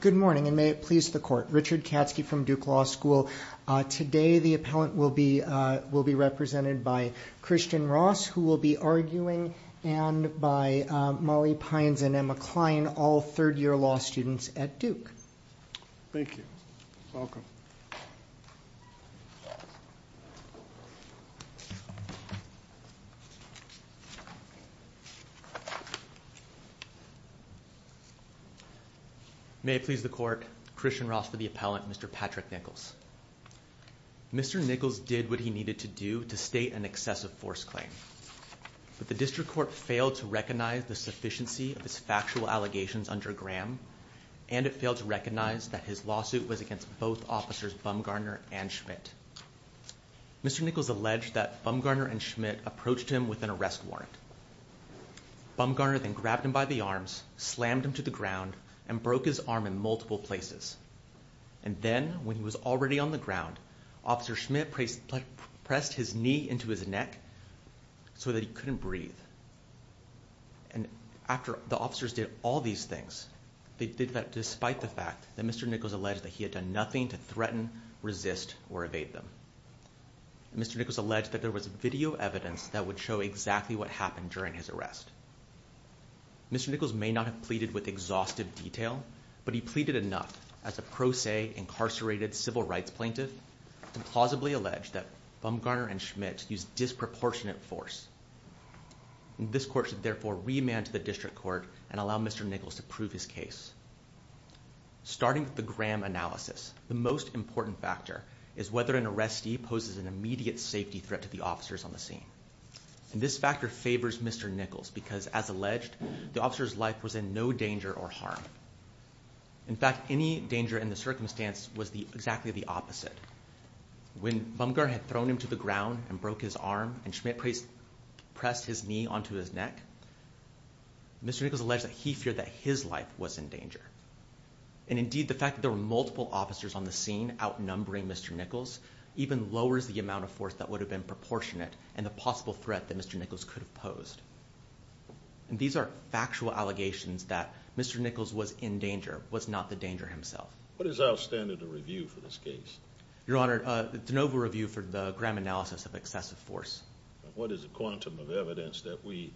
Good morning, and may it please the court. Richard Katzke from Duke Law School. Today the appellant will be represented by Christian Ross, who will be arguing, and by Molly Pines and Emma Klein, all third-year law students at Duke. Thank you. Welcome. May it please the court, Christian Ross for the appellant, Mr. Patrick Nichols. Mr. Nichols did what he needed to do to state an excessive force claim, but the district court failed to recognize the sufficiency of his factual allegations under Graham, and it failed to recognize that his lawsuit was against both officers Bumgarner and Schmidt. Mr. Nichols alleged that Bumgarner and Schmidt approached him with an arrest warrant. Bumgarner then grabbed him by the arms, slammed him to the ground, and broke his arm in multiple places. And then, when he was already on the ground, Officer Schmidt pressed his knee into his neck so that he couldn't breathe. And after the officers did all these things, they did that despite the fact that Mr. Nichols alleged that he had done nothing to threaten, resist, or evade them. Mr. Nichols alleged that there was video evidence that would show exactly what happened during his arrest. Mr. Nichols may not have pleaded with exhaustive detail, but he pleaded enough as a pro se, incarcerated civil rights plaintiff to plausibly allege that Bumgarner and Schmidt used disproportionate force. This court should therefore remand to the district court and allow Mr. Nichols to prove his case. Starting with the Graham analysis, the most important factor is whether an arrestee poses an immediate safety threat to the officers on the scene. This factor favors Mr. Nichols because, as alleged, the officer's life was in no danger or harm. In fact, any danger in the circumstance was exactly the opposite. When Bumgarner had thrown him to the ground and broke his arm, and Schmidt pressed his knee onto his neck, Mr. Nichols alleged that he feared that his life was in danger. And indeed, the fact that there were multiple officers on the scene outnumbering Mr. Nichols even lowers the amount of force that would have been proportionate and the possible threat that Mr. Nichols could have posed. And these are factual allegations that Mr. Nichols was in danger, was not the danger himself. What is our standard of review for this case? Your Honor, it's a novel review for the Graham analysis of excessive force. What is the quantum of evidence that we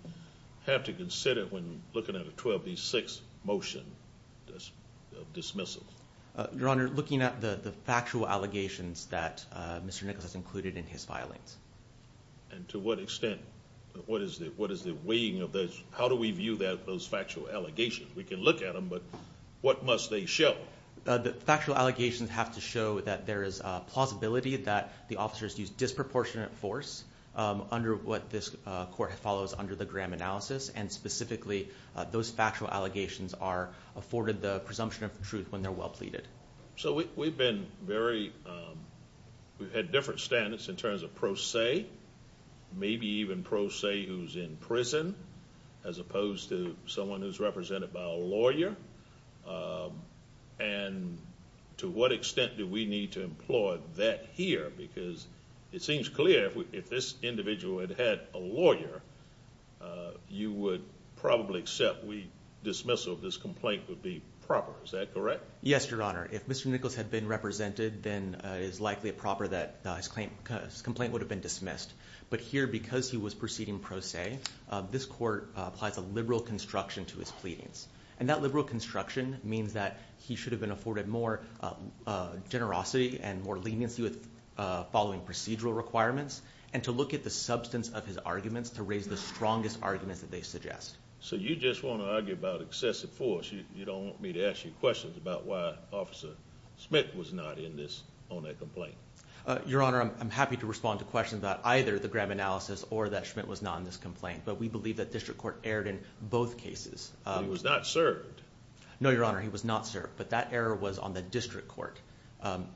have to consider when looking at a 12 v. 6 motion of dismissal? Your Honor, looking at the factual allegations that Mr. Nichols has included in his filings. And to what extent? What is the weighing of those? How do we view those factual allegations? We can look at them, but what must they show? The factual allegations have to show that there is a plausibility that the officers used disproportionate force under what this court follows under the Graham analysis, and specifically those factual allegations are afforded the presumption of truth when they're well pleaded. So we've been very, we've had different standards in terms of pro se, maybe even pro se who's in prison, as opposed to someone who's represented by a lawyer. And to what extent do we need to employ that here? Because it seems clear if this individual had had a lawyer, you would probably accept we dismissal of this complaint would be proper. Is Mr. Nichols had been represented, then is likely a proper that his complaint would have been dismissed. But here, because he was proceeding pro se, this court applies a liberal construction to his pleadings. And that liberal construction means that he should have been afforded more generosity and more leniency with following procedural requirements and to look at the substance of his arguments to raise the strongest arguments that they suggest. So you just want to argue about excessive force. You don't want me to ask you questions about why Officer Smith was not in this on that complaint. Your Honor, I'm happy to respond to questions about either the Graham analysis or that Schmidt was not in this complaint. But we believe that district court aired in both cases. It was not served. No, Your Honor, he was not served. But that error was on the district court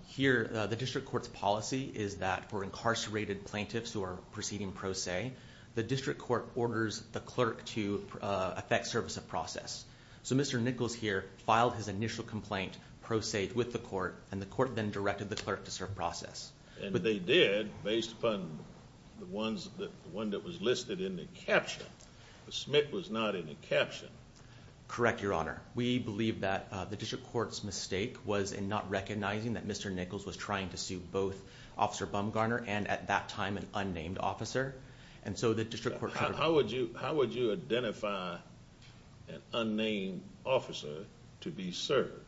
here. The district court's policy is that for incarcerated plaintiffs who are proceeding pro se, the district court orders the clerk to affect service of process. So Mr Nichols here filed his initial complaint pro se with the court, and the court then directed the clerk to serve process. But they did based upon the ones that one that was listed in the caption. The Smith was not in the caption. Correct, Your Honor. We believe that the district court's mistake was in not recognizing that Mr Nichols was trying to sue both Officer Bumgarner and at that time an unnamed officer. And so the district, how would you How would you identify an unnamed officer to be served?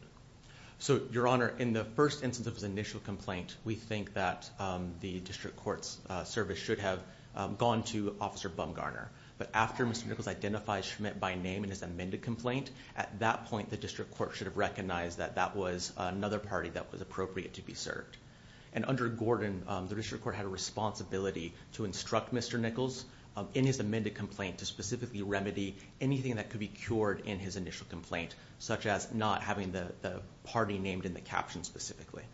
So, Your Honor, in the first instance of his initial complaint, we think that the district court's service should have gone to Officer Bumgarner. But after Mr Nichols identifies Schmidt by name in his amended complaint, at that point, the district court should have recognized that that was another party that was appropriate to be served. And under Gordon, the district court had a responsibility to instruct Mr Nichols in his amended complaint to specifically remedy anything that could be cured in his initial complaint, such as not having the party named in the caption specifically.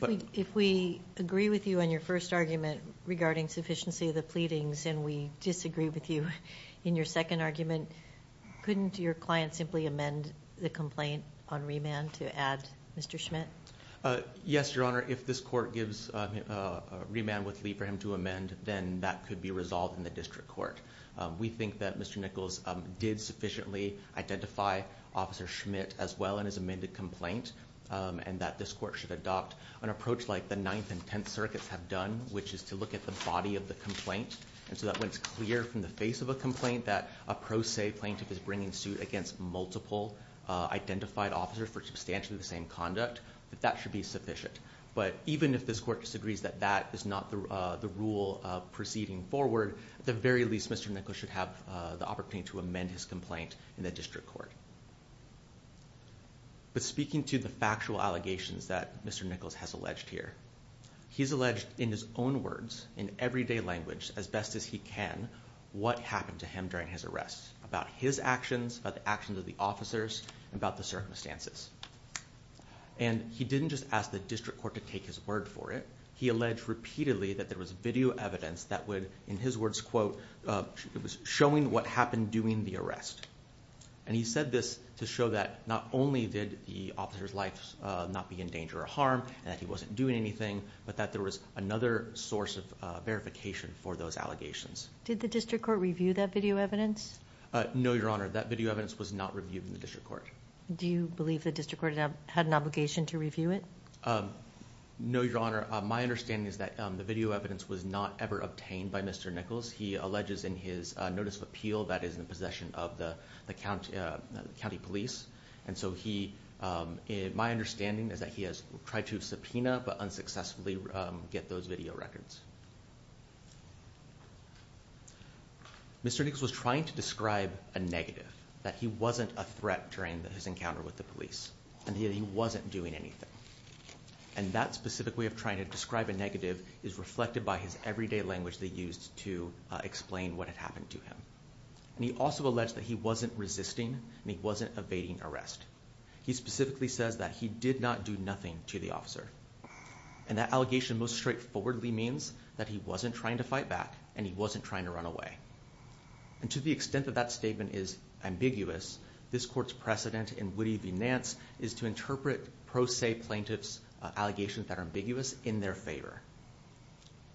If we agree with you on your first argument regarding sufficiency of the pleadings, and we disagree with you in your second argument, couldn't your client simply amend the complaint on remand to add Mr Schmidt? Yes, Your Honor. If this court gives remand with Lee for him to amend, then that could be resolved in the district court. We think that Mr Nichols did sufficiently identify Officer Schmidt as well in his amended complaint, and that this court should adopt an approach like the Ninth and Tenth Circuits have done, which is to look at the body of the complaint. And so that when it's clear from the face of a complaint that a pro se plaintiff is bringing suit against multiple identified officers for substantially the same conduct, that that should be sufficient. But even if this court disagrees that that is not the rule proceeding forward, at the very least, Mr Nichols should have the opportunity to amend his complaint in the district court. But speaking to the factual allegations that Mr Nichols has alleged here, he's alleged in his own words, in everyday language, as best as he can, what happened to him during his arrest, about his actions, about the actions of the officers, about the circumstances. And he didn't just ask the district court to take his word for it, he alleged repeatedly that there was video evidence that would, in his words, quote, showing what happened during the arrest. And he said this to show that not only did the officer's life not be in danger or harm, and that he wasn't doing anything, but that there was another source of verification for those allegations. Did the district court review that video evidence? No, Your Honor, that video evidence was not reviewed in the district court. Do you believe the district court had an obligation to review it? No, Your Honor. My understanding is that the video evidence was not ever obtained by Mr Nichols. He alleges in his notice of appeal that is in possession of the county police. And so he... My understanding is that he has tried to subpoena, but unsuccessfully get those video records. Mr Nichols was trying to describe a negative, that he wasn't a threat during his encounter with the police, and that he wasn't doing anything. And that specific way of trying to describe a negative is reflected by his everyday language they used to explain what had happened to him. And he also alleged that he wasn't resisting, and he wasn't evading arrest. He specifically says that he did not do nothing to the officer. And that allegation most straightforwardly means that he wasn't trying to fight back, and he wasn't trying to run away. And to the extent that that statement is ambiguous, this court's precedent in Woody v. Nance is to interpret pro se plaintiff's allegations that are ambiguous in their favor.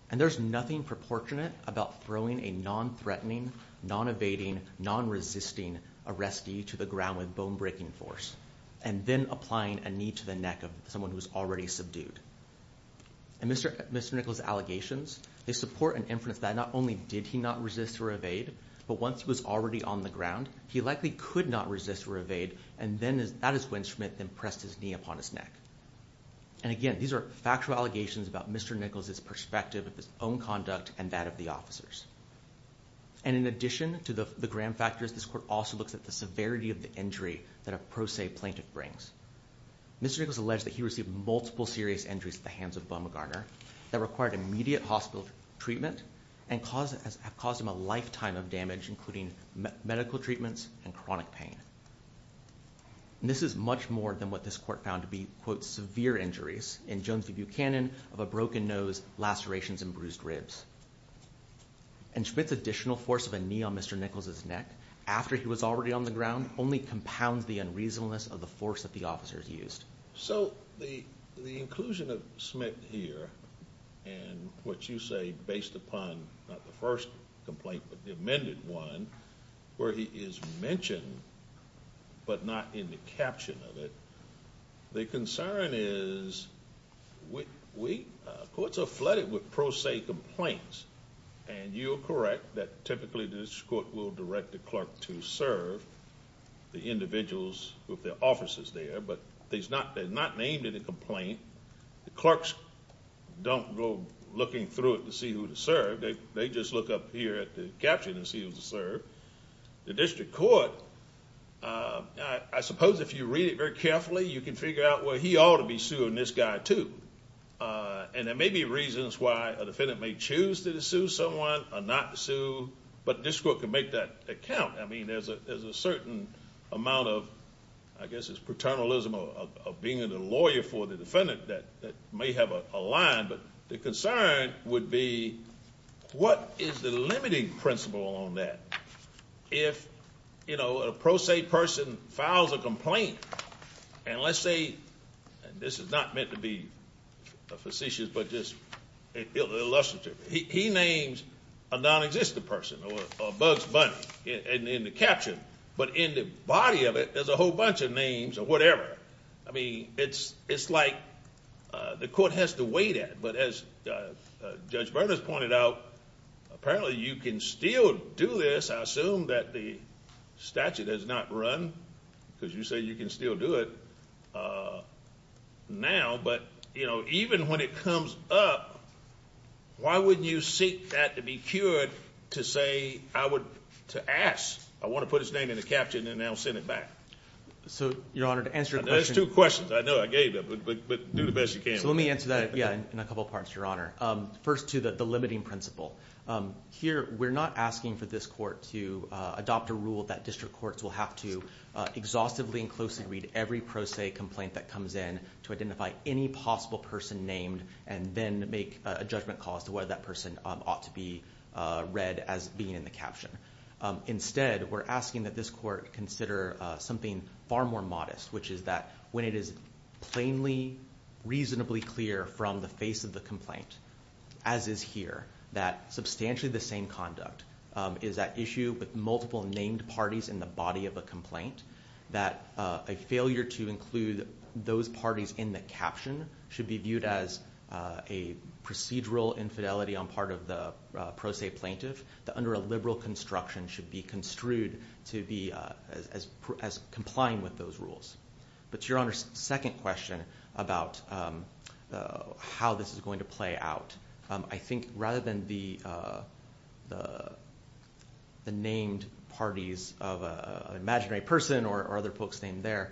And there's nothing proportionate about throwing a non threatening, non evading, non resisting arrestee to the ground with bone breaking force, and then applying a knee to the neck of someone who's already subdued. And Mr Nichols' allegations, they support an inference that not only did he not resist or evade, but once he was already on the ground, he likely could not resist or evade, and then that is when Schmidt then pressed his knee upon his neck. And again, these are factual allegations about Mr. Nichols' perspective of his own conduct and that of the officers. And in addition to the Graham factors, this court also looks at the severity of the injury that a pro se plaintiff brings. Mr. Nichols alleged that he received multiple serious injuries at the hands of Bumgarner that required immediate hospital treatment and have caused him a lifetime of damage, including medical treatments and chronic pain. This is much more than what this court found to be, quote, severe injuries in Jonesy Buchanan of a broken nose, lacerations and bruised ribs. And Schmidt's additional force of a knee on Mr. Nichols' neck after he was already on the ground only compounds the unreasonableness of the force that the officers used. So the inclusion of Schmidt here and what you say based upon not the first complaint, but the amended one where he is mentioned, but not in the caption of it. The concern is we courts are flooded with pro se complaints, and you're correct that typically this court will direct the clerk to serve the individuals with their offices there, but they're not named in a complaint. The clerks don't go looking through it to see who to serve. They just look up here at the caption and see who to serve. The district court, I suppose if you read it very carefully, you can figure out where he ought to be suing this guy, too. And there may be reasons why a defendant may choose to sue someone or not sue, but this court could make that account. I mean, there's a certain amount of, I guess it's paternalism of being a lawyer for the defendant that may have a line, but the concern would be what is the limiting principle on that? If, you know, a pro se person files a complaint, and let's say this is not meant to be a facetious, but just illustrative. He names a non existent person or Bugs Bunny in the caption, but in the body of it, there's a whole bunch of names or whatever. I as Judge Bernas pointed out, apparently you can still do this. I assume that the statute has not run because you say you can still do it. Uh, now. But, you know, even when it comes up, why would you seek that to be cured to say I would to ask? I want to put his name in the caption and now send it back. So, Your Honor, to answer those two questions I know I gave up, but do the best you can. Let me answer that. Yeah, in a couple parts, Your Honor. First to the limiting principle here, we're not asking for this court to adopt a rule that district courts will have to exhaustively and closely read every pro se complaint that comes in to identify any possible person named and then make a judgment calls to whether that person ought to be read as being in the caption. Instead, we're asking that this court consider something far more modest, which is that when it is plainly, reasonably clear from the face of the complaint, as is here, that substantially the same conduct is that issue with multiple named parties in the body of a complaint that a failure to include those parties in the caption should be viewed as a procedural infidelity on part of the pro se plaintiff that under liberal construction should be construed to be as complying with those rules. But, Your Honor, second question about how this is going to play out. I think rather than the named parties of imaginary person or other folks named there,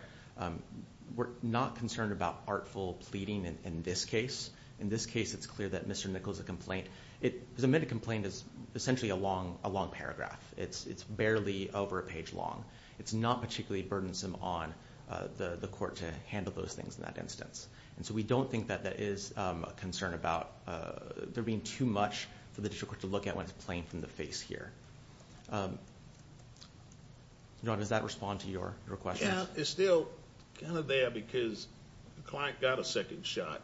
we're not concerned about artful pleading. In this case, it's clear that Mr. Nichols, a complaint, it is a minute complaint is essentially a long a long paragraph. It's it's barely over a page long. It's not particularly burdensome on the court to handle those things in that instance. And so we don't think that that is a concern about there being too much for the district to look at when it's playing from the face here. Does that respond to your request? Yeah, it's still kind of there because the client got a second shot.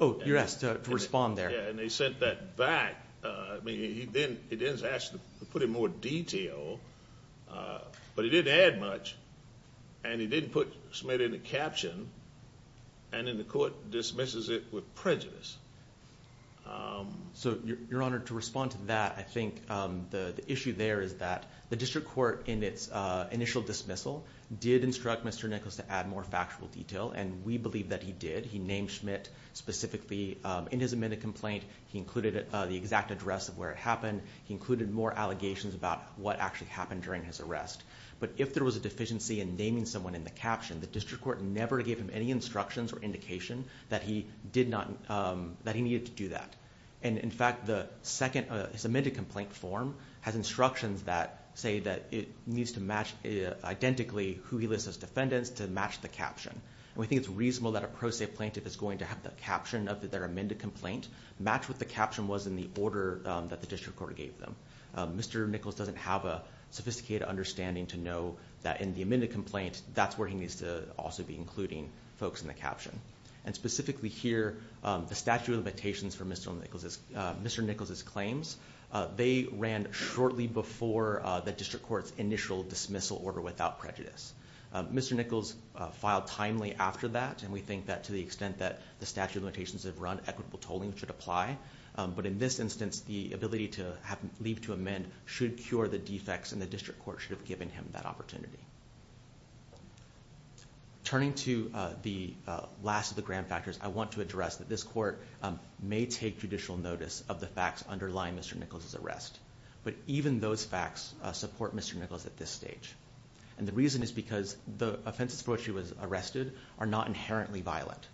Oh, you're asked to respond there. And they sent that back. Uh, he didn't. It is asked to put in more detail. Uh, but he didn't add much and he didn't put smith in the caption and in the court dismisses it with prejudice. Um, so you're honored to respond to that. I think the issue there is that the district court in its initial dismissal did instruct Mr Nichols to add more factual detail. And we believe that he did. He named schmidt specifically in his a minute complaint. He included the exact address of where it happened. He included more allegations about what actually happened during his arrest. But if there was a deficiency in naming someone in the caption, the district court never gave him any instructions or indication that he did not, um, that he needed to do that. And in fact, the second submitted complaint form has instructions that say that it needs to match identically who he lists as defendants to match the caption. And we think it's reasonable that a pro se plaintiff is going to have the caption of their amended complaint match with the caption was in the order that the district court gave them. Mr Nichols doesn't have a sophisticated understanding to know that in the minute complaint, that's where he needs to also be including folks in the caption and specifically here. Um, the statute of limitations for Mr Nichols, Mr Nichols claims they ran shortly before the district court's initial dismissal order without prejudice. Mr Nichols filed timely after that. And we think that to the extent that the statute of limitations have run equitable tolling should apply. But in this instance, the ability to have leave to amend should cure the defects in the district court should have given him that opportunity turning to the last of the grand factors. I want to address that this court may take judicial notice of the facts underlying Mr Nichols is arrest. But even those facts support Mr Nichols at this stage. And the reason is because the offenses for which he was arrested are not inherently violent.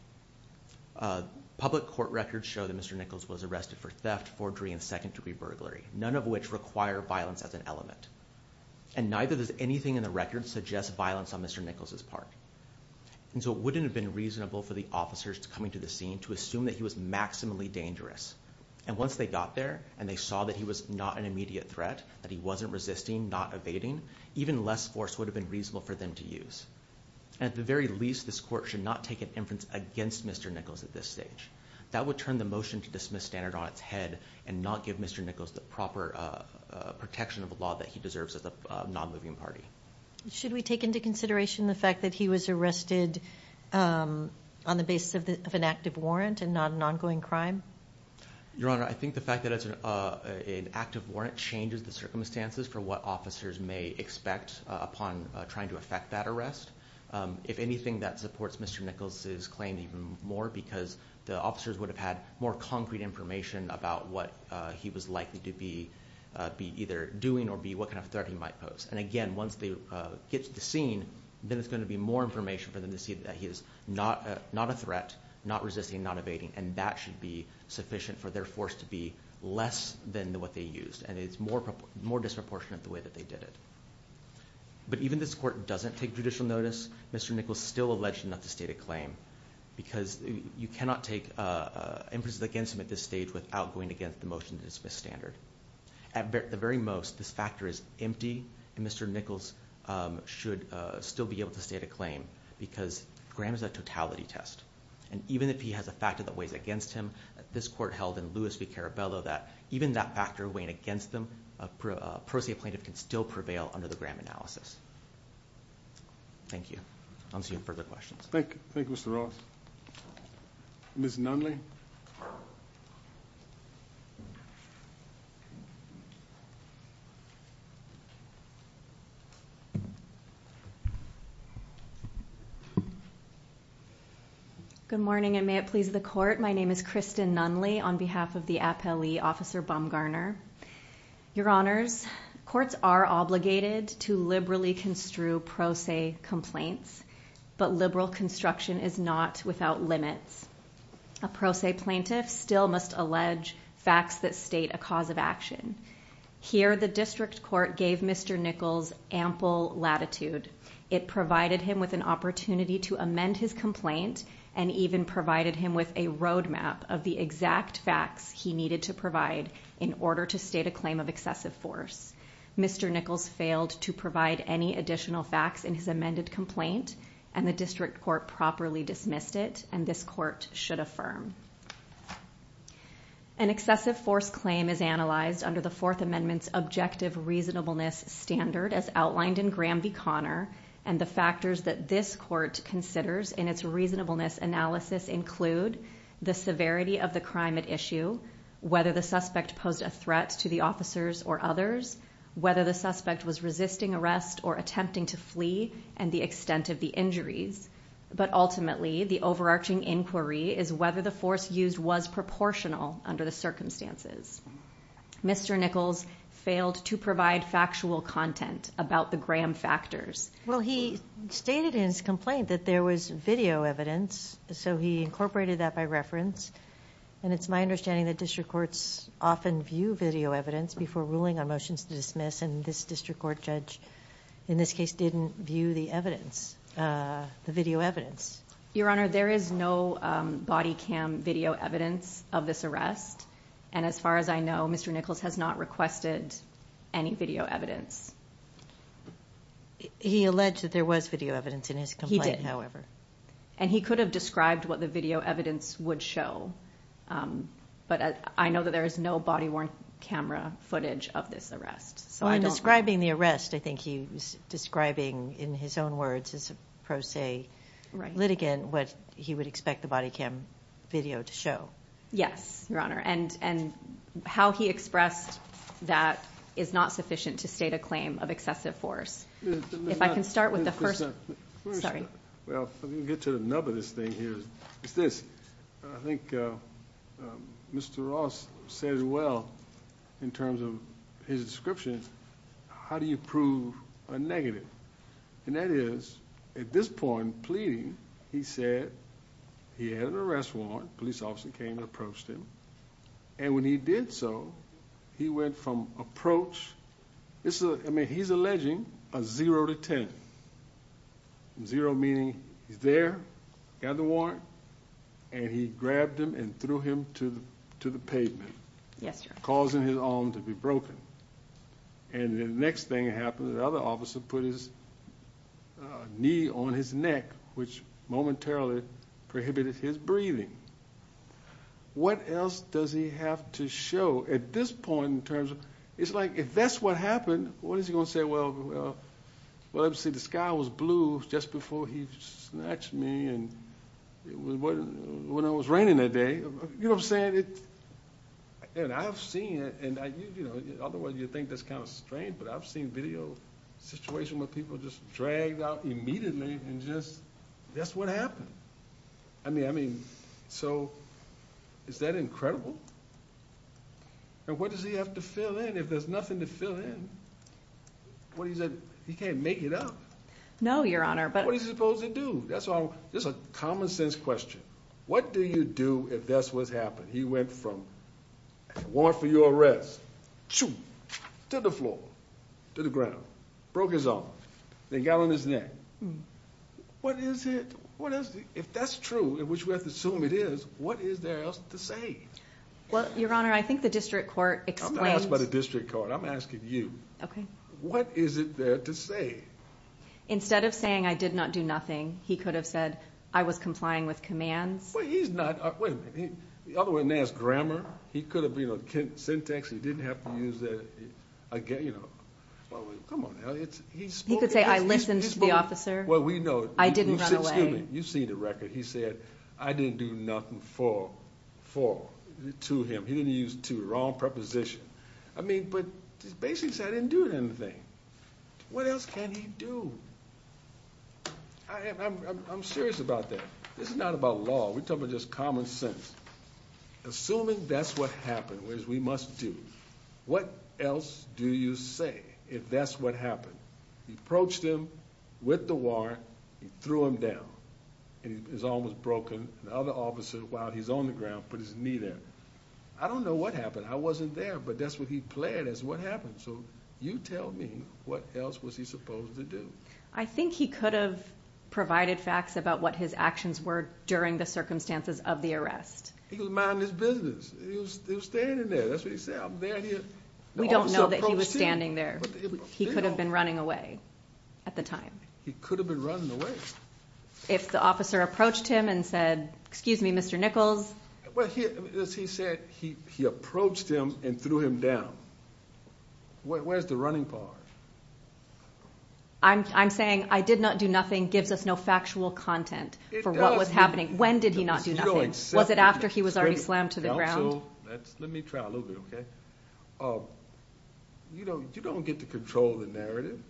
Public court records show that Mr Nichols was arrested for theft, forgery and second degree burglary, none of which require violence as an element. And neither does anything in the records suggest violence on Mr Nichols is part. And so it wouldn't have been reasonable for the officers coming to the scene to assume that he was maximally dangerous. And once they got there and they saw that he was not an immediate threat, that he wasn't resisting, not evading, even less force would have been reasonable for them to use. At the very least, this court should not take an inference against Mr Nichols at this stage. That would turn the motion to dismiss standard on its head and not give Mr Nichols the proper protection of a law that he deserves as a non moving party. Should we take into consideration the fact that he was arrested on the basis of an active warrant and not an ongoing crime? Your Honor, I think the fact that it's an active warrant changes the circumstances for what officers may expect upon trying to affect that arrest. If anything, that supports Mr Nichols is claimed even more because the officers would have had more concrete information about what he was likely to be be either doing or be what kind of 30 might pose. And again, once they get to the scene, then it's going to be more information for them to see that he is not not a threat, not resisting, not evading. And that should be sufficient for their force to be less than what they used. And it's more, more disproportionate the way that they did it. But even this court doesn't take judicial notice, Mr Nichols still alleged not to state a claim because you cannot take inferences against him at this stage without going against the motion to dismiss standard. At the very most, this factor is empty and Mr Nichols should still be able to state a claim because Graham is a totality test. And even if he has a factor that weighs against him, this court held in Lewis v. Caraballo that even that factor weighing against them, a prosecutor plaintiff can still prevail under the Graham analysis. Thank you. I'll see you in further questions. Thank you. Thank you, Mr Ross. Miss Nunley. Good morning and may it please the court. My name is Kristen Nunley on behalf of the appellee officer Bumgarner. Your honors, courts are obligated to liberally construe pro se complaints, but liberal construction is not without limits. A pro se plaintiff still must allege facts that state a cause of action here. The district court gave Mr Nichols ample latitude. It provided him with an opportunity to amend his complaint and even provided him with a road map of the exact facts he needed to provide in order to state a claim of excessive force. Mr Nichols failed to provide any additional facts in his amended complaint, and the district court properly dismissed it. And this court should affirm an excessive force claim is analyzed under the Fourth Amendment's objective reasonableness standard, as outlined in Graham v Connor and the factors that this court considers in its reasonableness analysis include the severity of the crime at issue, whether the suspect posed a threat to the officers or others, whether the suspect was resisting arrest or attempting to flee and the extent of the injuries. But ultimately, the overarching inquiry is whether the force used was proportional under the circumstances. Mr Nichols failed to provide factual content about the Graham factors. Well, he stated his complaint that there was video evidence, so he incorporated that by reference. And it's my understanding that district courts often view video evidence before ruling on motions to dismiss. And this district court judge in this case didn't view the evidence. Uh, video evidence. Your Honor, there is no body cam video evidence of this arrest. And as far as I know, Mr Nichols has not requested any video evidence. He alleged that there was video evidence in his complaint, however, and he could have described what the video evidence would show. Um, but I know that there is no body worn camera footage of this arrest. So I'm describing the arrest. I think he was describing in his own words is a pro se litigant. What he would expect the body cam video to show. Yes, Your Honor. And and how he expressed that is not sufficient to state a claim of excessive force. If I can start with the first, sorry. Well, let me get to the nub of this thing here. It's this. I think Mr Ross says well, in terms of his description, how do you prove a negative? And that is at this point pleading, he said he had an arrest warrant. Police officer came, approached him. And when he did so, he went from approach. It's a I mean, he's alleging a 0 to 10 zero, meaning he's there, got the warrant and he grabbed him and threw him to the pavement, causing his arm to be broken. And the next thing happened. The other officer put his knee on his neck, which momentarily prohibited his breathing. What else does he have to show at this point in terms of it's like if that's what happened, what is he gonna say? Well, well, obviously the sky was blue just before he snatched me and it was when it was raining that day, you know, saying it and I have seen it. And you know, otherwise you think that's kind of strange, but I've seen video situation where people just dragged out immediately and just that's what happened. I mean, I mean, so is that incredible? And what does he have to fill in if there's nothing to fill in? What? He said he can't make it up. No, Your Honor. But what is he supposed to do? That's all. There's a common sense question. What do you do if that's what's happened? He went from war for your arrest to the floor to the ground, broke his arm. They got on his neck. What is it? What is if that's true in which we have to assume it is. What is there else to say? Well, Your Honor, I think the district court by the district court. I'm asking you. Okay. What is it there to say? Instead of saying I did not do nothing, he could have said I was complying with commands. He's not the other one. There's grammar. He could have been a Kent syntax. He didn't have to use that again. You know, come on. He could say I listened to the officer. Well, we know I didn't run away. You've seen the record. He said I didn't do nothing for for to him. He didn't use to wrong preposition. I mean, but basically I didn't do anything. What else can he do? I'm serious about that. This is not about law. We're talking just common sense. Assuming that's what happened was we must do. What else do you say? If that's what happened, he approached him with the war. He threw him down and his arm was broken. Other officer while he's on the ground, put his knee there. I wasn't there, but that's what he planned is what happened. So you tell me what else was he supposed to do? I think he could have provided facts about what his actions were during the circumstances of the arrest. He was minding his business. He was standing there. That's what he said. I'm there. Here. We don't know that he was standing there. He could have been running away at the time. He could have been running away if the officer approached him and threw him down. Where's the running part? I'm saying I did not do nothing. Gives us no factual content for what was happening. When did he not do nothing? Was it after he was already slammed to the ground? Let me try a little bit. Okay. You know, you don't get to control the narrative.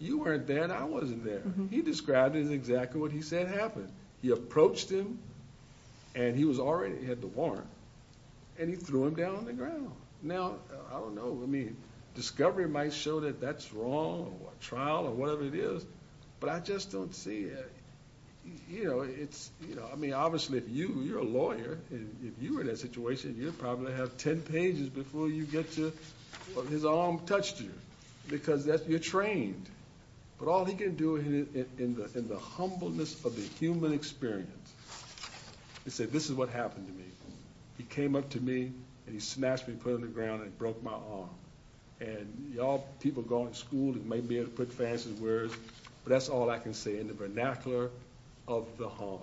You weren't there. I wasn't there. He described it exactly what he said happened. He approached him and he was already had the warrant and he threw him down on the ground. Now, I don't know. I mean, discovery might show that that's wrong trial or whatever it is, but I just don't see it. You know, it's, you know, I mean, obviously, if you you're a lawyer, if you were in a situation, you probably have 10 pages before you get to his arm touched you because that you're trained, but all he didn't do it in the humbleness of the human experience. He said, This is what happened to me. He came up to me and he snatched me, put in the ground and broke my arm and y'all people going to school that might be able to put fancy words, but that's all I can say in the vernacular of the home.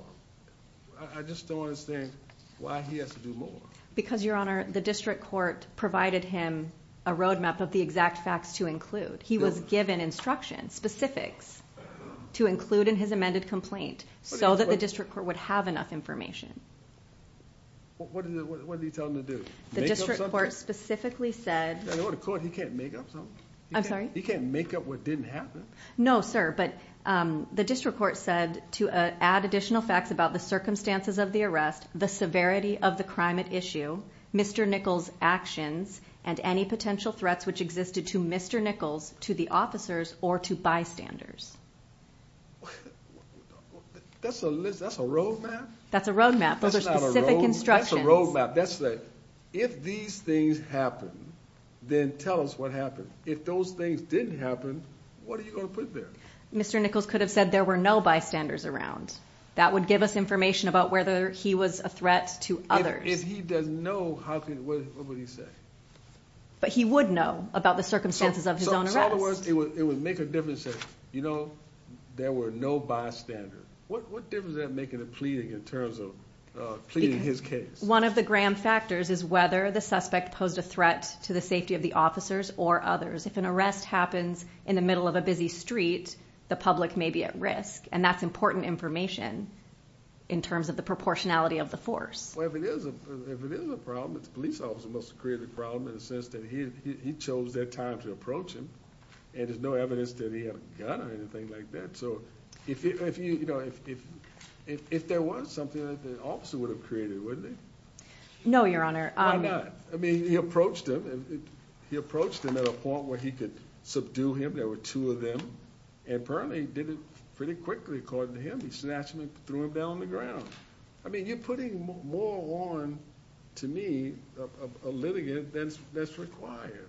I just don't understand why he has to do more because your honor, the district court provided him a road map of the exact facts to include. He was given instruction specifics to include in his amended complaint so that the district court would have enough information. What do you tell him to do? The district court specifically said the court he can't make up something. I'm sorry. You can't make up what didn't happen. No, sir. But, um, the district court said to add additional facts about the circumstances of the arrest, the severity of the crime at issue Mr Nichols actions and any potential threats which existed to Mr Nichols to the officers or to bystanders. That's a list. That's a road map. That's a road map. Those are specific instructions. That's a road map. That's that. If these things happen, then tell us what happened. If those things didn't happen. What are you gonna put there? Mr Nichols could have said there were no bystanders around. That would give us information about whether he was a threat to others. If he doesn't know how could what would he say? But he would know about the circumstances of the words. It would make a difference. You know, there were no bystander. What difference that making a pleading in terms of pleading his case? One of the Graham factors is whether the suspect posed a threat to the safety of the officers or others. If an arrest happens in the middle of a busy street, the public may be at risk, and that's important information in terms of the proportionality of the force. If it is, if it is a problem, it's police officer must create a problem in the sense that he chose that time to approach him, and there's no evidence that he had a gun or anything like that. So if you know, if if if there was something that the officer would have created, wouldn't it? No, Your Honor. I mean, he approached him. He approached him at a point where he could subdue him. There were two of them, and apparently did it pretty quickly. According to him, he snatched me, threw him down on the ground. I mean, you're putting more on to me a litigant that's that's required.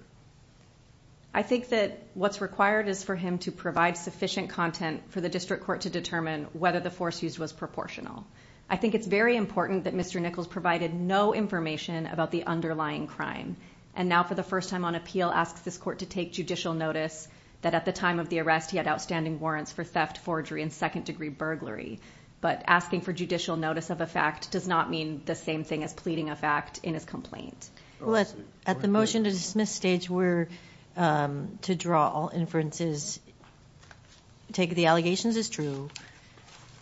I think that what's required is for him to provide sufficient content for the district court to determine whether the force used was proportional. I think it's very important that Mr Nichols provided no information about the underlying crime. And now, for the first time on appeal, asks this court to take judicial notice that at the time of the arrest, he had outstanding warrants for theft, forgery and second degree burglary. But asking for judicial notice of a fact does not mean the same thing as pleading a fact in his complaint. Well, at the motion to dismiss stage, we're, um, to draw all inferences. Take the allegations is true.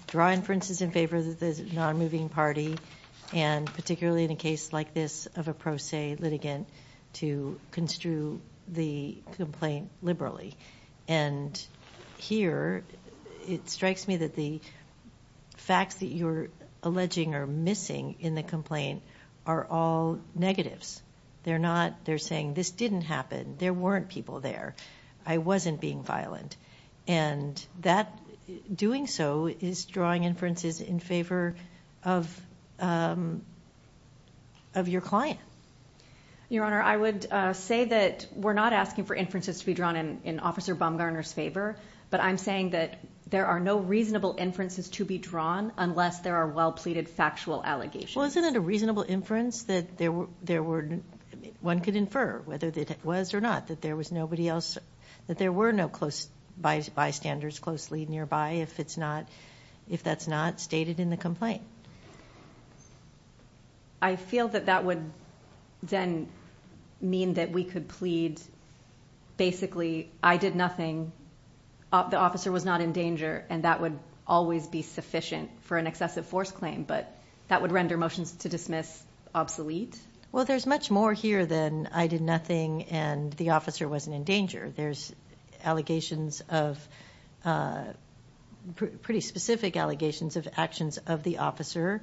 Draw inferences in favor of the non moving party and particularly in a case like this of a pro se litigant to construe the complaint liberally. And here it strikes me that the facts that you're alleging are missing in the complaint are all negatives. They're not. They're saying this didn't happen. There weren't people there. I wasn't being violent, and that doing so is drawing inferences in favor of, um, of your client. Your Honor, I would say that we're not asking for inferences to be drawn in Officer Bumgarner's favor, but I'm saying that there are no reasonable inferences to be drawn unless there are well pleaded factual allegations. Well, isn't it a reasonable inference that there were there were one could infer whether that was or not that there was nobody else that there were no close bystanders closely nearby? If it's not, if that's not stated in the complaint, I feel that that would then mean that we could plead. Basically, I did nothing. The officer was not in danger, and that would always be sufficient for an excessive force claim. But that would render motions to dismiss obsolete. Well, there's much more here than I did nothing, and the officer wasn't in danger. There's allegations of, uh, pretty specific allegations of actions of the officer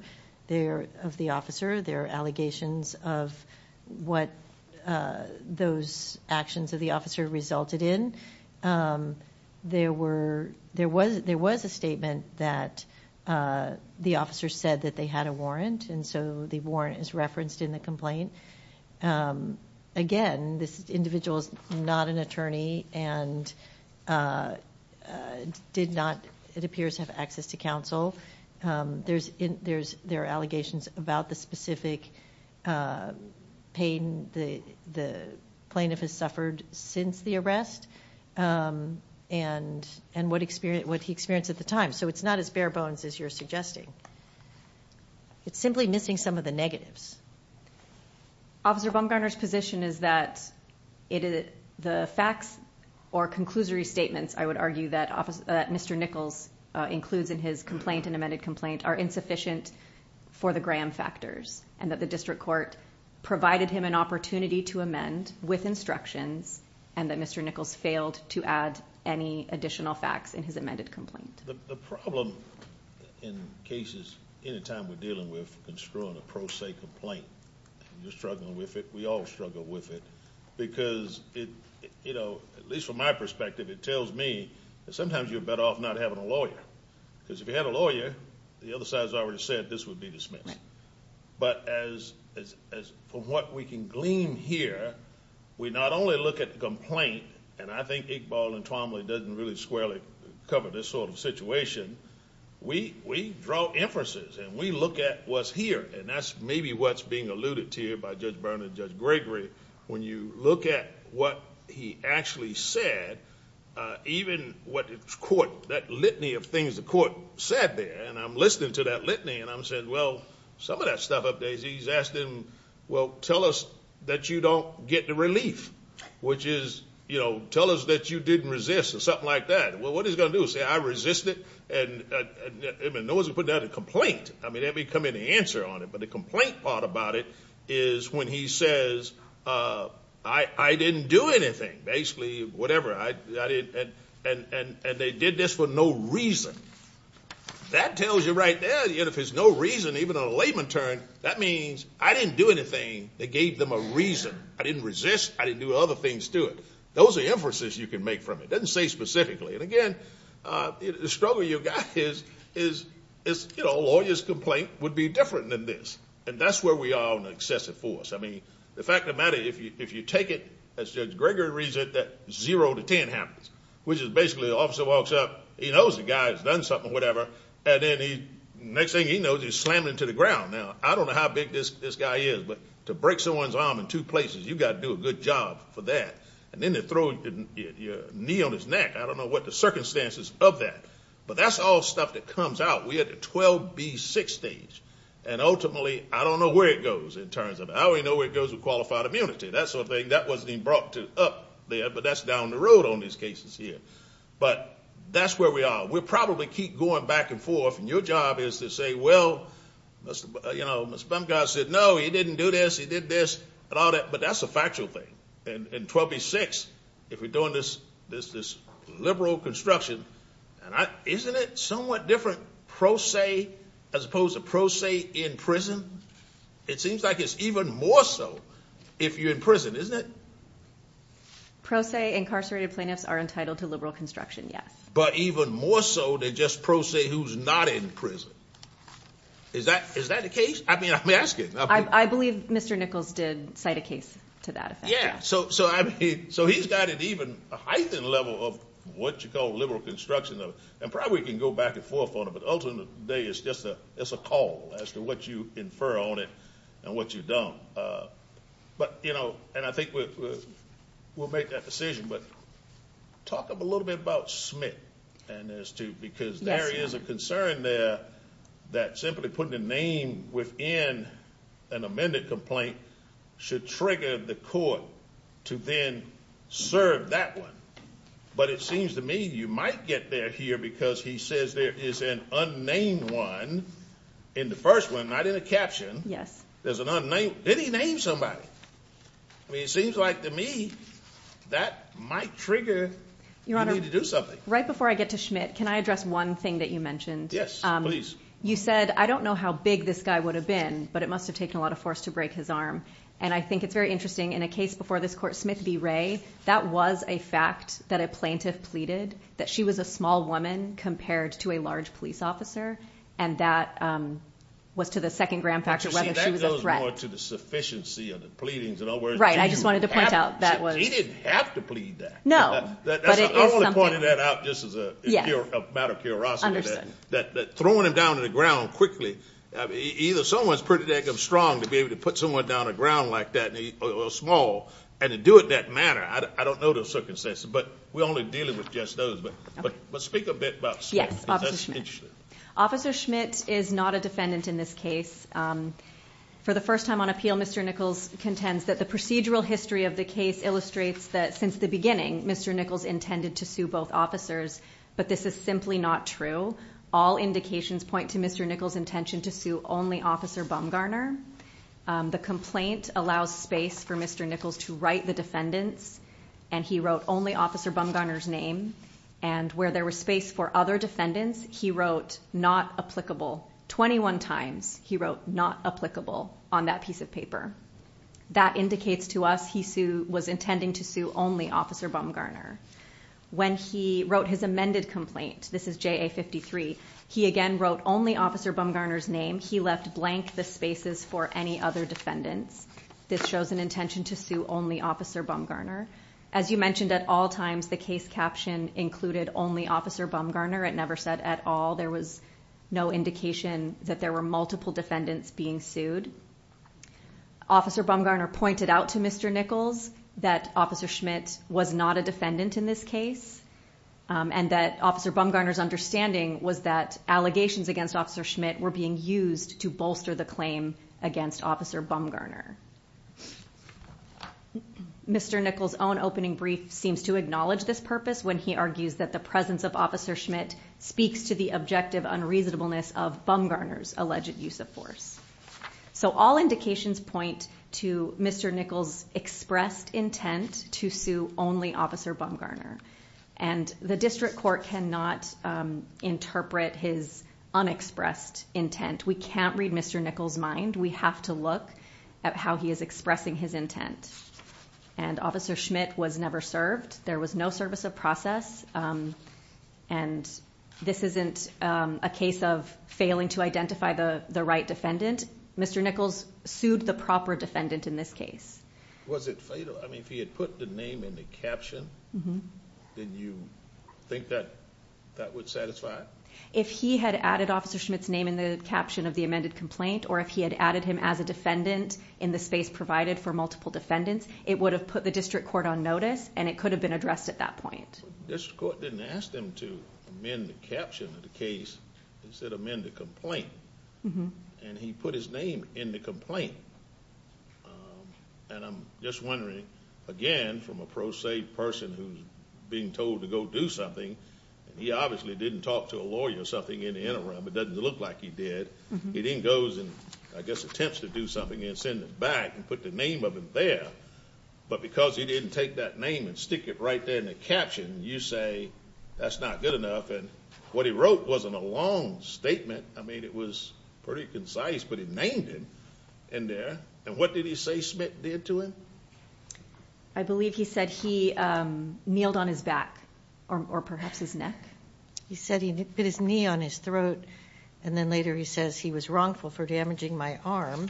there of the officer. There are allegations of what those actions of the officer resulted in. Um, there were there was there was a statement that, uh, the officer said that they had a warrant, and so the warrant is referenced in the complaint. Um, again, this individual is not an attorney and, uh, did not, it appears, have access to counsel. Um, there's there's there are allegations about the specific, uh, pain the plaintiff has suffered since the arrest. Um, and and what experience what he experienced at the time. So it's not as bare bones as you're suggesting. It's simply missing some of the negatives. Officer Bumgarner's position is that it is the facts or conclusory statements. I would argue that officer Mr Nichols includes in his complaint and amended complaint are insufficient for the Graham factors and that the district court provided him an opportunity to amend with instructions and that Mr Nichols failed to add any additional facts in his amended complaint. The problem in cases anytime we're dealing with construing a pro se complaint, you're struggling with it. We all struggle with it because it, you know, at least from my perspective, it tells me that sometimes you're better off not having a lawyer because if you had a lawyer, the other side has already said this would be dismissed. But as as from what we can glean here, we not only look at the complaint and I think Iqbal and Tromley doesn't really squarely cover this sort of situation. We we draw inferences and we look at what's here and that's maybe what's being alluded to you by Judge Burnett and Judge Gregory. When you look at what he actually said, uh, even what court, that litany of things the court said there and I'm listening to that litany and I'm saying, well, some of that stuff updates, he's asking, well, tell us that you don't get the relief, which is, you know, tell us that you didn't resist or something like that. Well, what is going to do? Say I resisted and no one's putting out a complaint. I mean, every come in the answer on it. But the complaint part about it is when he says, uh, I didn't do anything, basically, whatever. And they did this for no reason. That tells you right there, you know, if there's no reason, even a layman turn, that means I didn't do anything that gave them a reason. I didn't resist. I didn't do other things to it. Those are inferences you can make from it. Doesn't say specifically. And again, uh, the struggle you got is, is, you know, lawyer's complaint would be different than this. And that's where we are on excessive force. I mean, the fact of the matter, if you take it as Gregory reads it, that zero to 10 happens, which is basically the officer walks up. He knows the guy's done something, whatever. And then the next thing he knows, he's slamming into the ground. Now, I don't know how big this guy is, but to break someone's arm in two places, you've got to do a good job for that. And then they throw your knee on his neck. I don't know what the circumstances of that, but that's all stuff that comes out. We had a 12 B six stage, and ultimately, I don't know where it goes in terms of how we know where it goes with qualified immunity. That sort of thing. That wasn't even brought to up there, but that's down the road on these cases here. But that's where we are. We'll probably keep going back and forth. And your job is to say, Well, you know, Mr. Bunker said, No, he didn't do this. He did this and all that. But that's a factual thing. And 12 B six. If we're doing this, there's this liberal construction, and isn't it somewhat different? Pro say, as opposed to pro say in prison, it seems like it's even more so if you're in prison, isn't it? Pro say, incarcerated plaintiffs are entitled to liberal construction. Yes, but even more so than just pro say who's not in prison. Is that is that the case? I mean, I'm asking. I believe Mr Nichols did cite a case to that effect. Yeah, so So I mean, so he's got an even heightened level of what you call liberal construction of and probably can go back and forth on it. But ultimately, today is just a it's a call as to what you infer on it and what you don't. Uh, but, you know, and I think we'll make that decision. But talk a little bit about Smith and as to because there is a concern there that simply putting a name within an amended complaint should trigger the court to then serve that one. But it seems to me you might get there here because he says there is an unnamed one in the first one, not in the caption. Yes, there's an unnamed. Did he name somebody? It seems like to me that might trigger you want to do something right before I get to Schmidt. Can I address one thing that you mentioned? Yes, please. You said, I don't know how big this guy would have been, but it must have taken a lot of force to break his arm. And I think it's very interesting in a case before this court. Smith B Ray. That was a fact that a plaintiff pleaded that she was a small woman compared to a large police officer. And that, um, was to the second grand factor. Whether she was a threat to the sufficiency of the pleadings and all right. I just wanted to point out that was he didn't have to plead that. No, but I wanted that out. This is a matter of curiosity that throwing him down to the ground quickly. Either someone's pretty strong to be able to put someone down the ground like that small and to do it that manner. I don't know the circumstances, but we're only dealing with just those. But speak a bit. Yes, Officer Schmidt. Officer Schmidt is not a defendant in this case. Um, for the first time on appeal, Mr Nichols contends that the procedural history of the case illustrates that since the beginning, Mr Nichols intended to sue both officers. But this is simply not true. All indications point to Mr Nichols intention to sue only Officer Bumgarner. The complaint allows space for Mr Nichols to write the and he wrote only Officer Bumgarner's name and where there was space for other defendants. He wrote not applicable 21 times. He wrote not applicable on that piece of paper. That indicates to us he was intending to sue only Officer Bumgarner when he wrote his amended complaint. This is J 53. He again wrote only Officer Bumgarner's name. He left blank the spaces for any defendants. This shows an intention to sue only Officer Bumgarner. As you mentioned, at all times, the case caption included only Officer Bumgarner. It never said at all. There was no indication that there were multiple defendants being sued. Officer Bumgarner pointed out to Mr Nichols that Officer Schmidt was not a defendant in this case, um, and that Officer Bumgarner's understanding was that allegations against Officer Schmidt were being used to bolster the against Officer Bumgarner. Mr Nichols own opening brief seems to acknowledge this purpose when he argues that the presence of Officer Schmidt speaks to the objective unreasonableness of Bumgarner's alleged use of force. So all indications point to Mr Nichols expressed intent to sue only Officer Bumgarner, and the district court cannot interpret his unexpressed intent. We can't read Mr Nichols mind. We have to look at how he is expressing his intent, and Officer Schmidt was never served. There was no service of process. Um, and this isn't a case of failing to identify the right defendant. Mr Nichols sued the proper defendant in this case. Was it fatal? I mean, if he had put the name in the caption, then you think that that would satisfy if he had added Officer Schmidt's name in the caption of the amended complaint, or if he had added him as a defendant in the space provided for multiple defendants, it would have put the district court on notice, and it could have been addressed at that point. This court didn't ask them to amend the caption of the case instead of men to complain, and he put his name in the complaint. Um, and I'm just wondering again from a pro se person who's being told to go do something, and he obviously didn't talk to a lawyer or something in the interim. It doesn't look like he did. He didn't goes and I guess attempts to do something and send it back and put the name of him there. But because he didn't take that name and stick it right there in the caption, you say that's not good enough. And what he wrote wasn't a long statement. I mean, it was pretty concise, but he named him in there. And what did he say Schmidt did to him? I believe he said he kneeled on his back or perhaps his neck. He said he put his knee on his throat, and then later he says he was wrongful for damaging my arm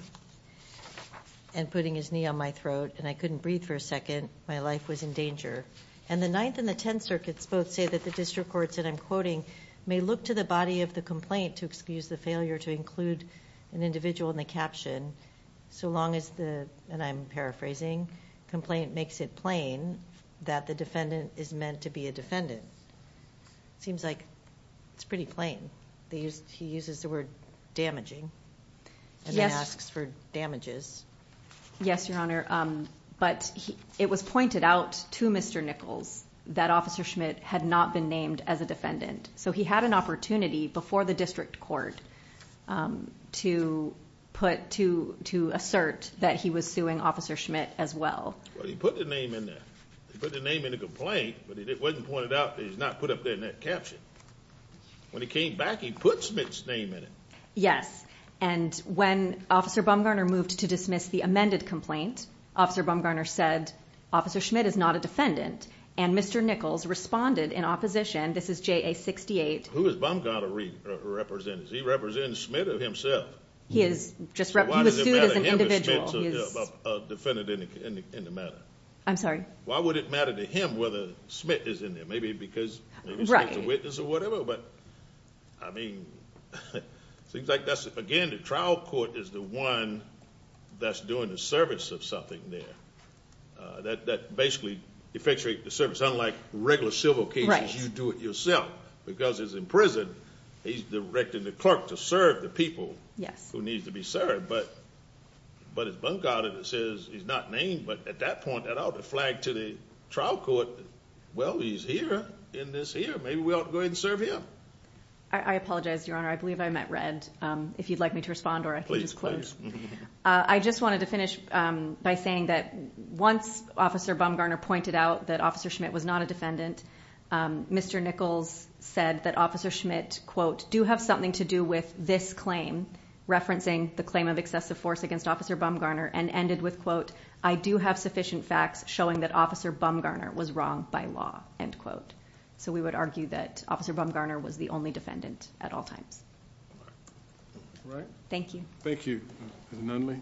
and putting his knee on my throat, and I couldn't breathe for a second. My life was in danger. And the ninth and the 10 circuits both say that the district courts that I'm quoting may look to the body of the complaint to use the failure to include an individual in the caption. So long is the and I'm paraphrasing complaint makes it plain that the defendant is meant to be a defendant. Seems like it's pretty plain. He uses the word damaging. He asks for damages. Yes, Your Honor. But it was pointed out to Mr Nichols that Officer Schmidt had not been named as a defendant, so he had an opportunity before the district court to put to to assert that he was suing Officer Schmidt as well. He put the name in there, put the name in the complaint, but it wasn't pointed out. He's not put up there in that caption. When he came back, he put Smith's name in it. Yes. And when Officer Bumgarner moved to dismiss the amended complaint, Officer Bumgarner said Officer Schmidt is not a defendant. And Mr Nichols responded in opposition. This is J. A. He represents Schmidt of himself. He is just represented as an individual defendant in the matter. I'm sorry. Why would it matter to him whether Smith is in there? Maybe because it's a witness or whatever. But I mean, things like that. Again, the trial court is the one that's doing the service of something there that basically effectuate the service. Unlike regular civil cases, you do it yourself because it's in prison. He's directing the clerk to serve the people who needs to be served. But it's Bumgarner that says he's not named. But at that point, that ought to flag to the trial court. Well, he's here in this here. Maybe we ought to go ahead and serve him. I apologize, Your Honor. I believe I met Red if you'd like me to respond or I can just close. I just wanted to finish by saying that once Officer Bumgarner pointed out that Officer Schmidt was not a defendant, Mr Nichols said that Officer Schmidt quote, do have something to do with this claim, referencing the claim of excessive force against Officer Bumgarner and ended with quote, I do have sufficient facts showing that Officer Bumgarner was wrong by law, end quote. So we would argue that Officer Bumgarner was the only defendant at all times. Right. Thank you. Thank you. None. Lee.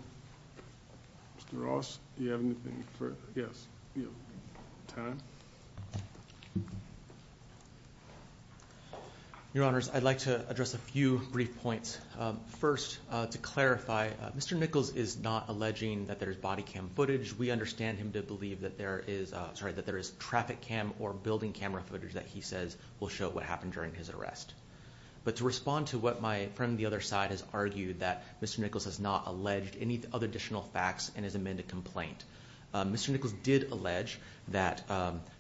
Ross. You have anything for? Yes. Your Honor's. I'd like to address a few brief points. First, to clarify, Mr Nichols is not alleging that there's body cam footage. We understand him to believe that there is sorry that there is traffic cam or building camera footage that he says will show what happened during his arrest. But to respond to what my friend, the other side has argued that Mr Nichols has not alleged any other additional facts in his amended complaint. Mr Nichols did allege that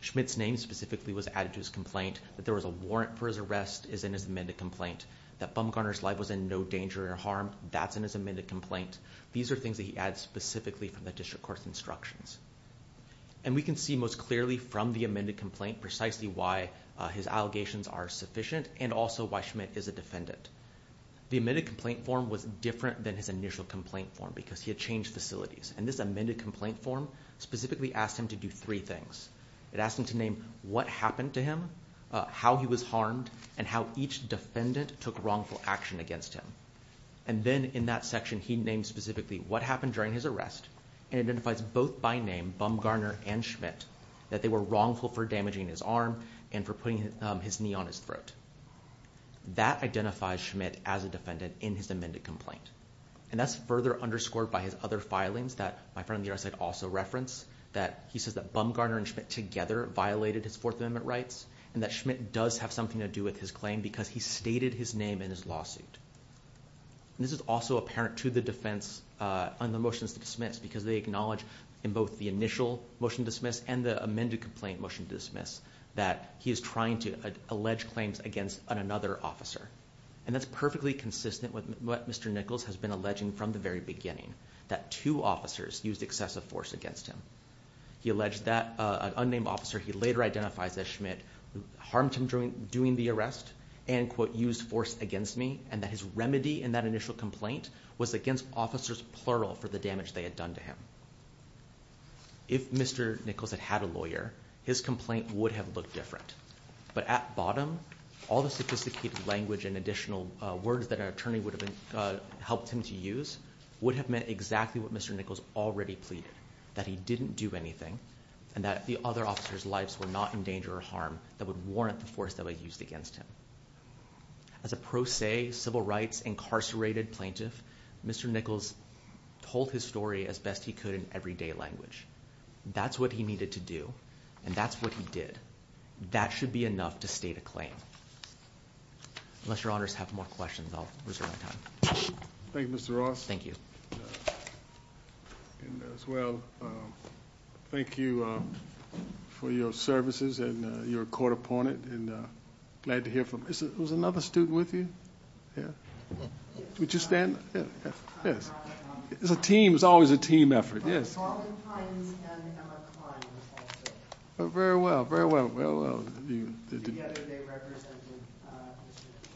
Schmidt's name specifically was added to his complaint that there was a warrant for his arrest is in his amended complaint that Bumgarner's life was in no danger or harm. That's in his amended complaint. These are things that he adds specifically from the district court's instructions. And we can see most clearly from the amended complaint precisely why his allegations are sufficient and also why Schmidt is a defendant. The admitted complaint form was different than his initial complaint form because he had changed facilities and this amended complaint form specifically asked him to do three things. It asked him to name what happened to him, how he was harmed and how each defendant took wrongful action against him. And then in that section he named specifically what happened during his arrest and identifies both by name Bumgarner and Schmidt that they were wrongful for damaging his arm and for putting his knee on his throat. That identifies Schmidt as a defendant in his amended complaint. And that's further underscored by his other filings that my friend here said also reference that he says that Bumgarner and Schmidt together violated his Fourth Amendment rights and that Schmidt does have something to do with his claim because he stated his name in his lawsuit. This is also apparent to the defense on the motions to dismiss because they acknowledge in both the initial motion to dismiss and the amended complaint motion to dismiss that he is trying to allege claims against another officer. And that's perfectly consistent with what Mr. Nichols has been alleging from the very beginning that two officers used excessive force against him. He alleged that an unnamed officer he later identifies as Schmidt harmed him during doing the arrest and quote used force against me and that his remedy in that initial complaint was against officers plural for the damage they had done to him. If Mr. Nichols had had a lawyer his complaint would have looked different. But at bottom all the sophisticated language and additional words that our attorney would have helped him to use would have meant exactly what Mr. Nichols already pleaded. That he didn't do anything and that the other officers lives were not in danger or harm that would warrant the force that was used against him. As a pro se civil rights incarcerated plaintiff Mr. Nichols told his story as best he could in everyday language. That's what he needed to do and that's what he did. That should be enough to state a claim. Unless your honors have more questions I'll reserve my time. Thank you Mr. Ross. Thank you as well. Thank you for your services and your court opponent and glad to hear from another student with you yeah would you stand yes it's a team it's always a team effort yes very well very well well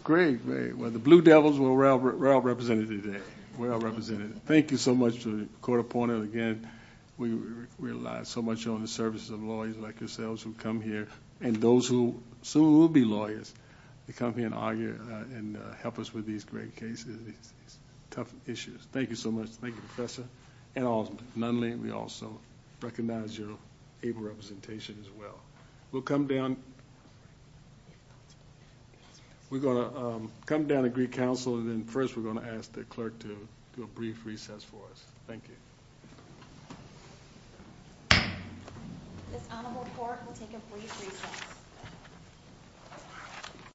great way well the blue devils were represented today well represented thank you so much to the court opponent again we realize so much on the services of lawyers like yourselves who come here and those who soon will be lawyers to come here and argue and help us with these great cases tough issues thank you so much thank you professor and all none Lee we also recognize your able representation as well we'll come down we're gonna come down to Greek Council and then first we're going to ask the clerk to do a brief recess for us thank you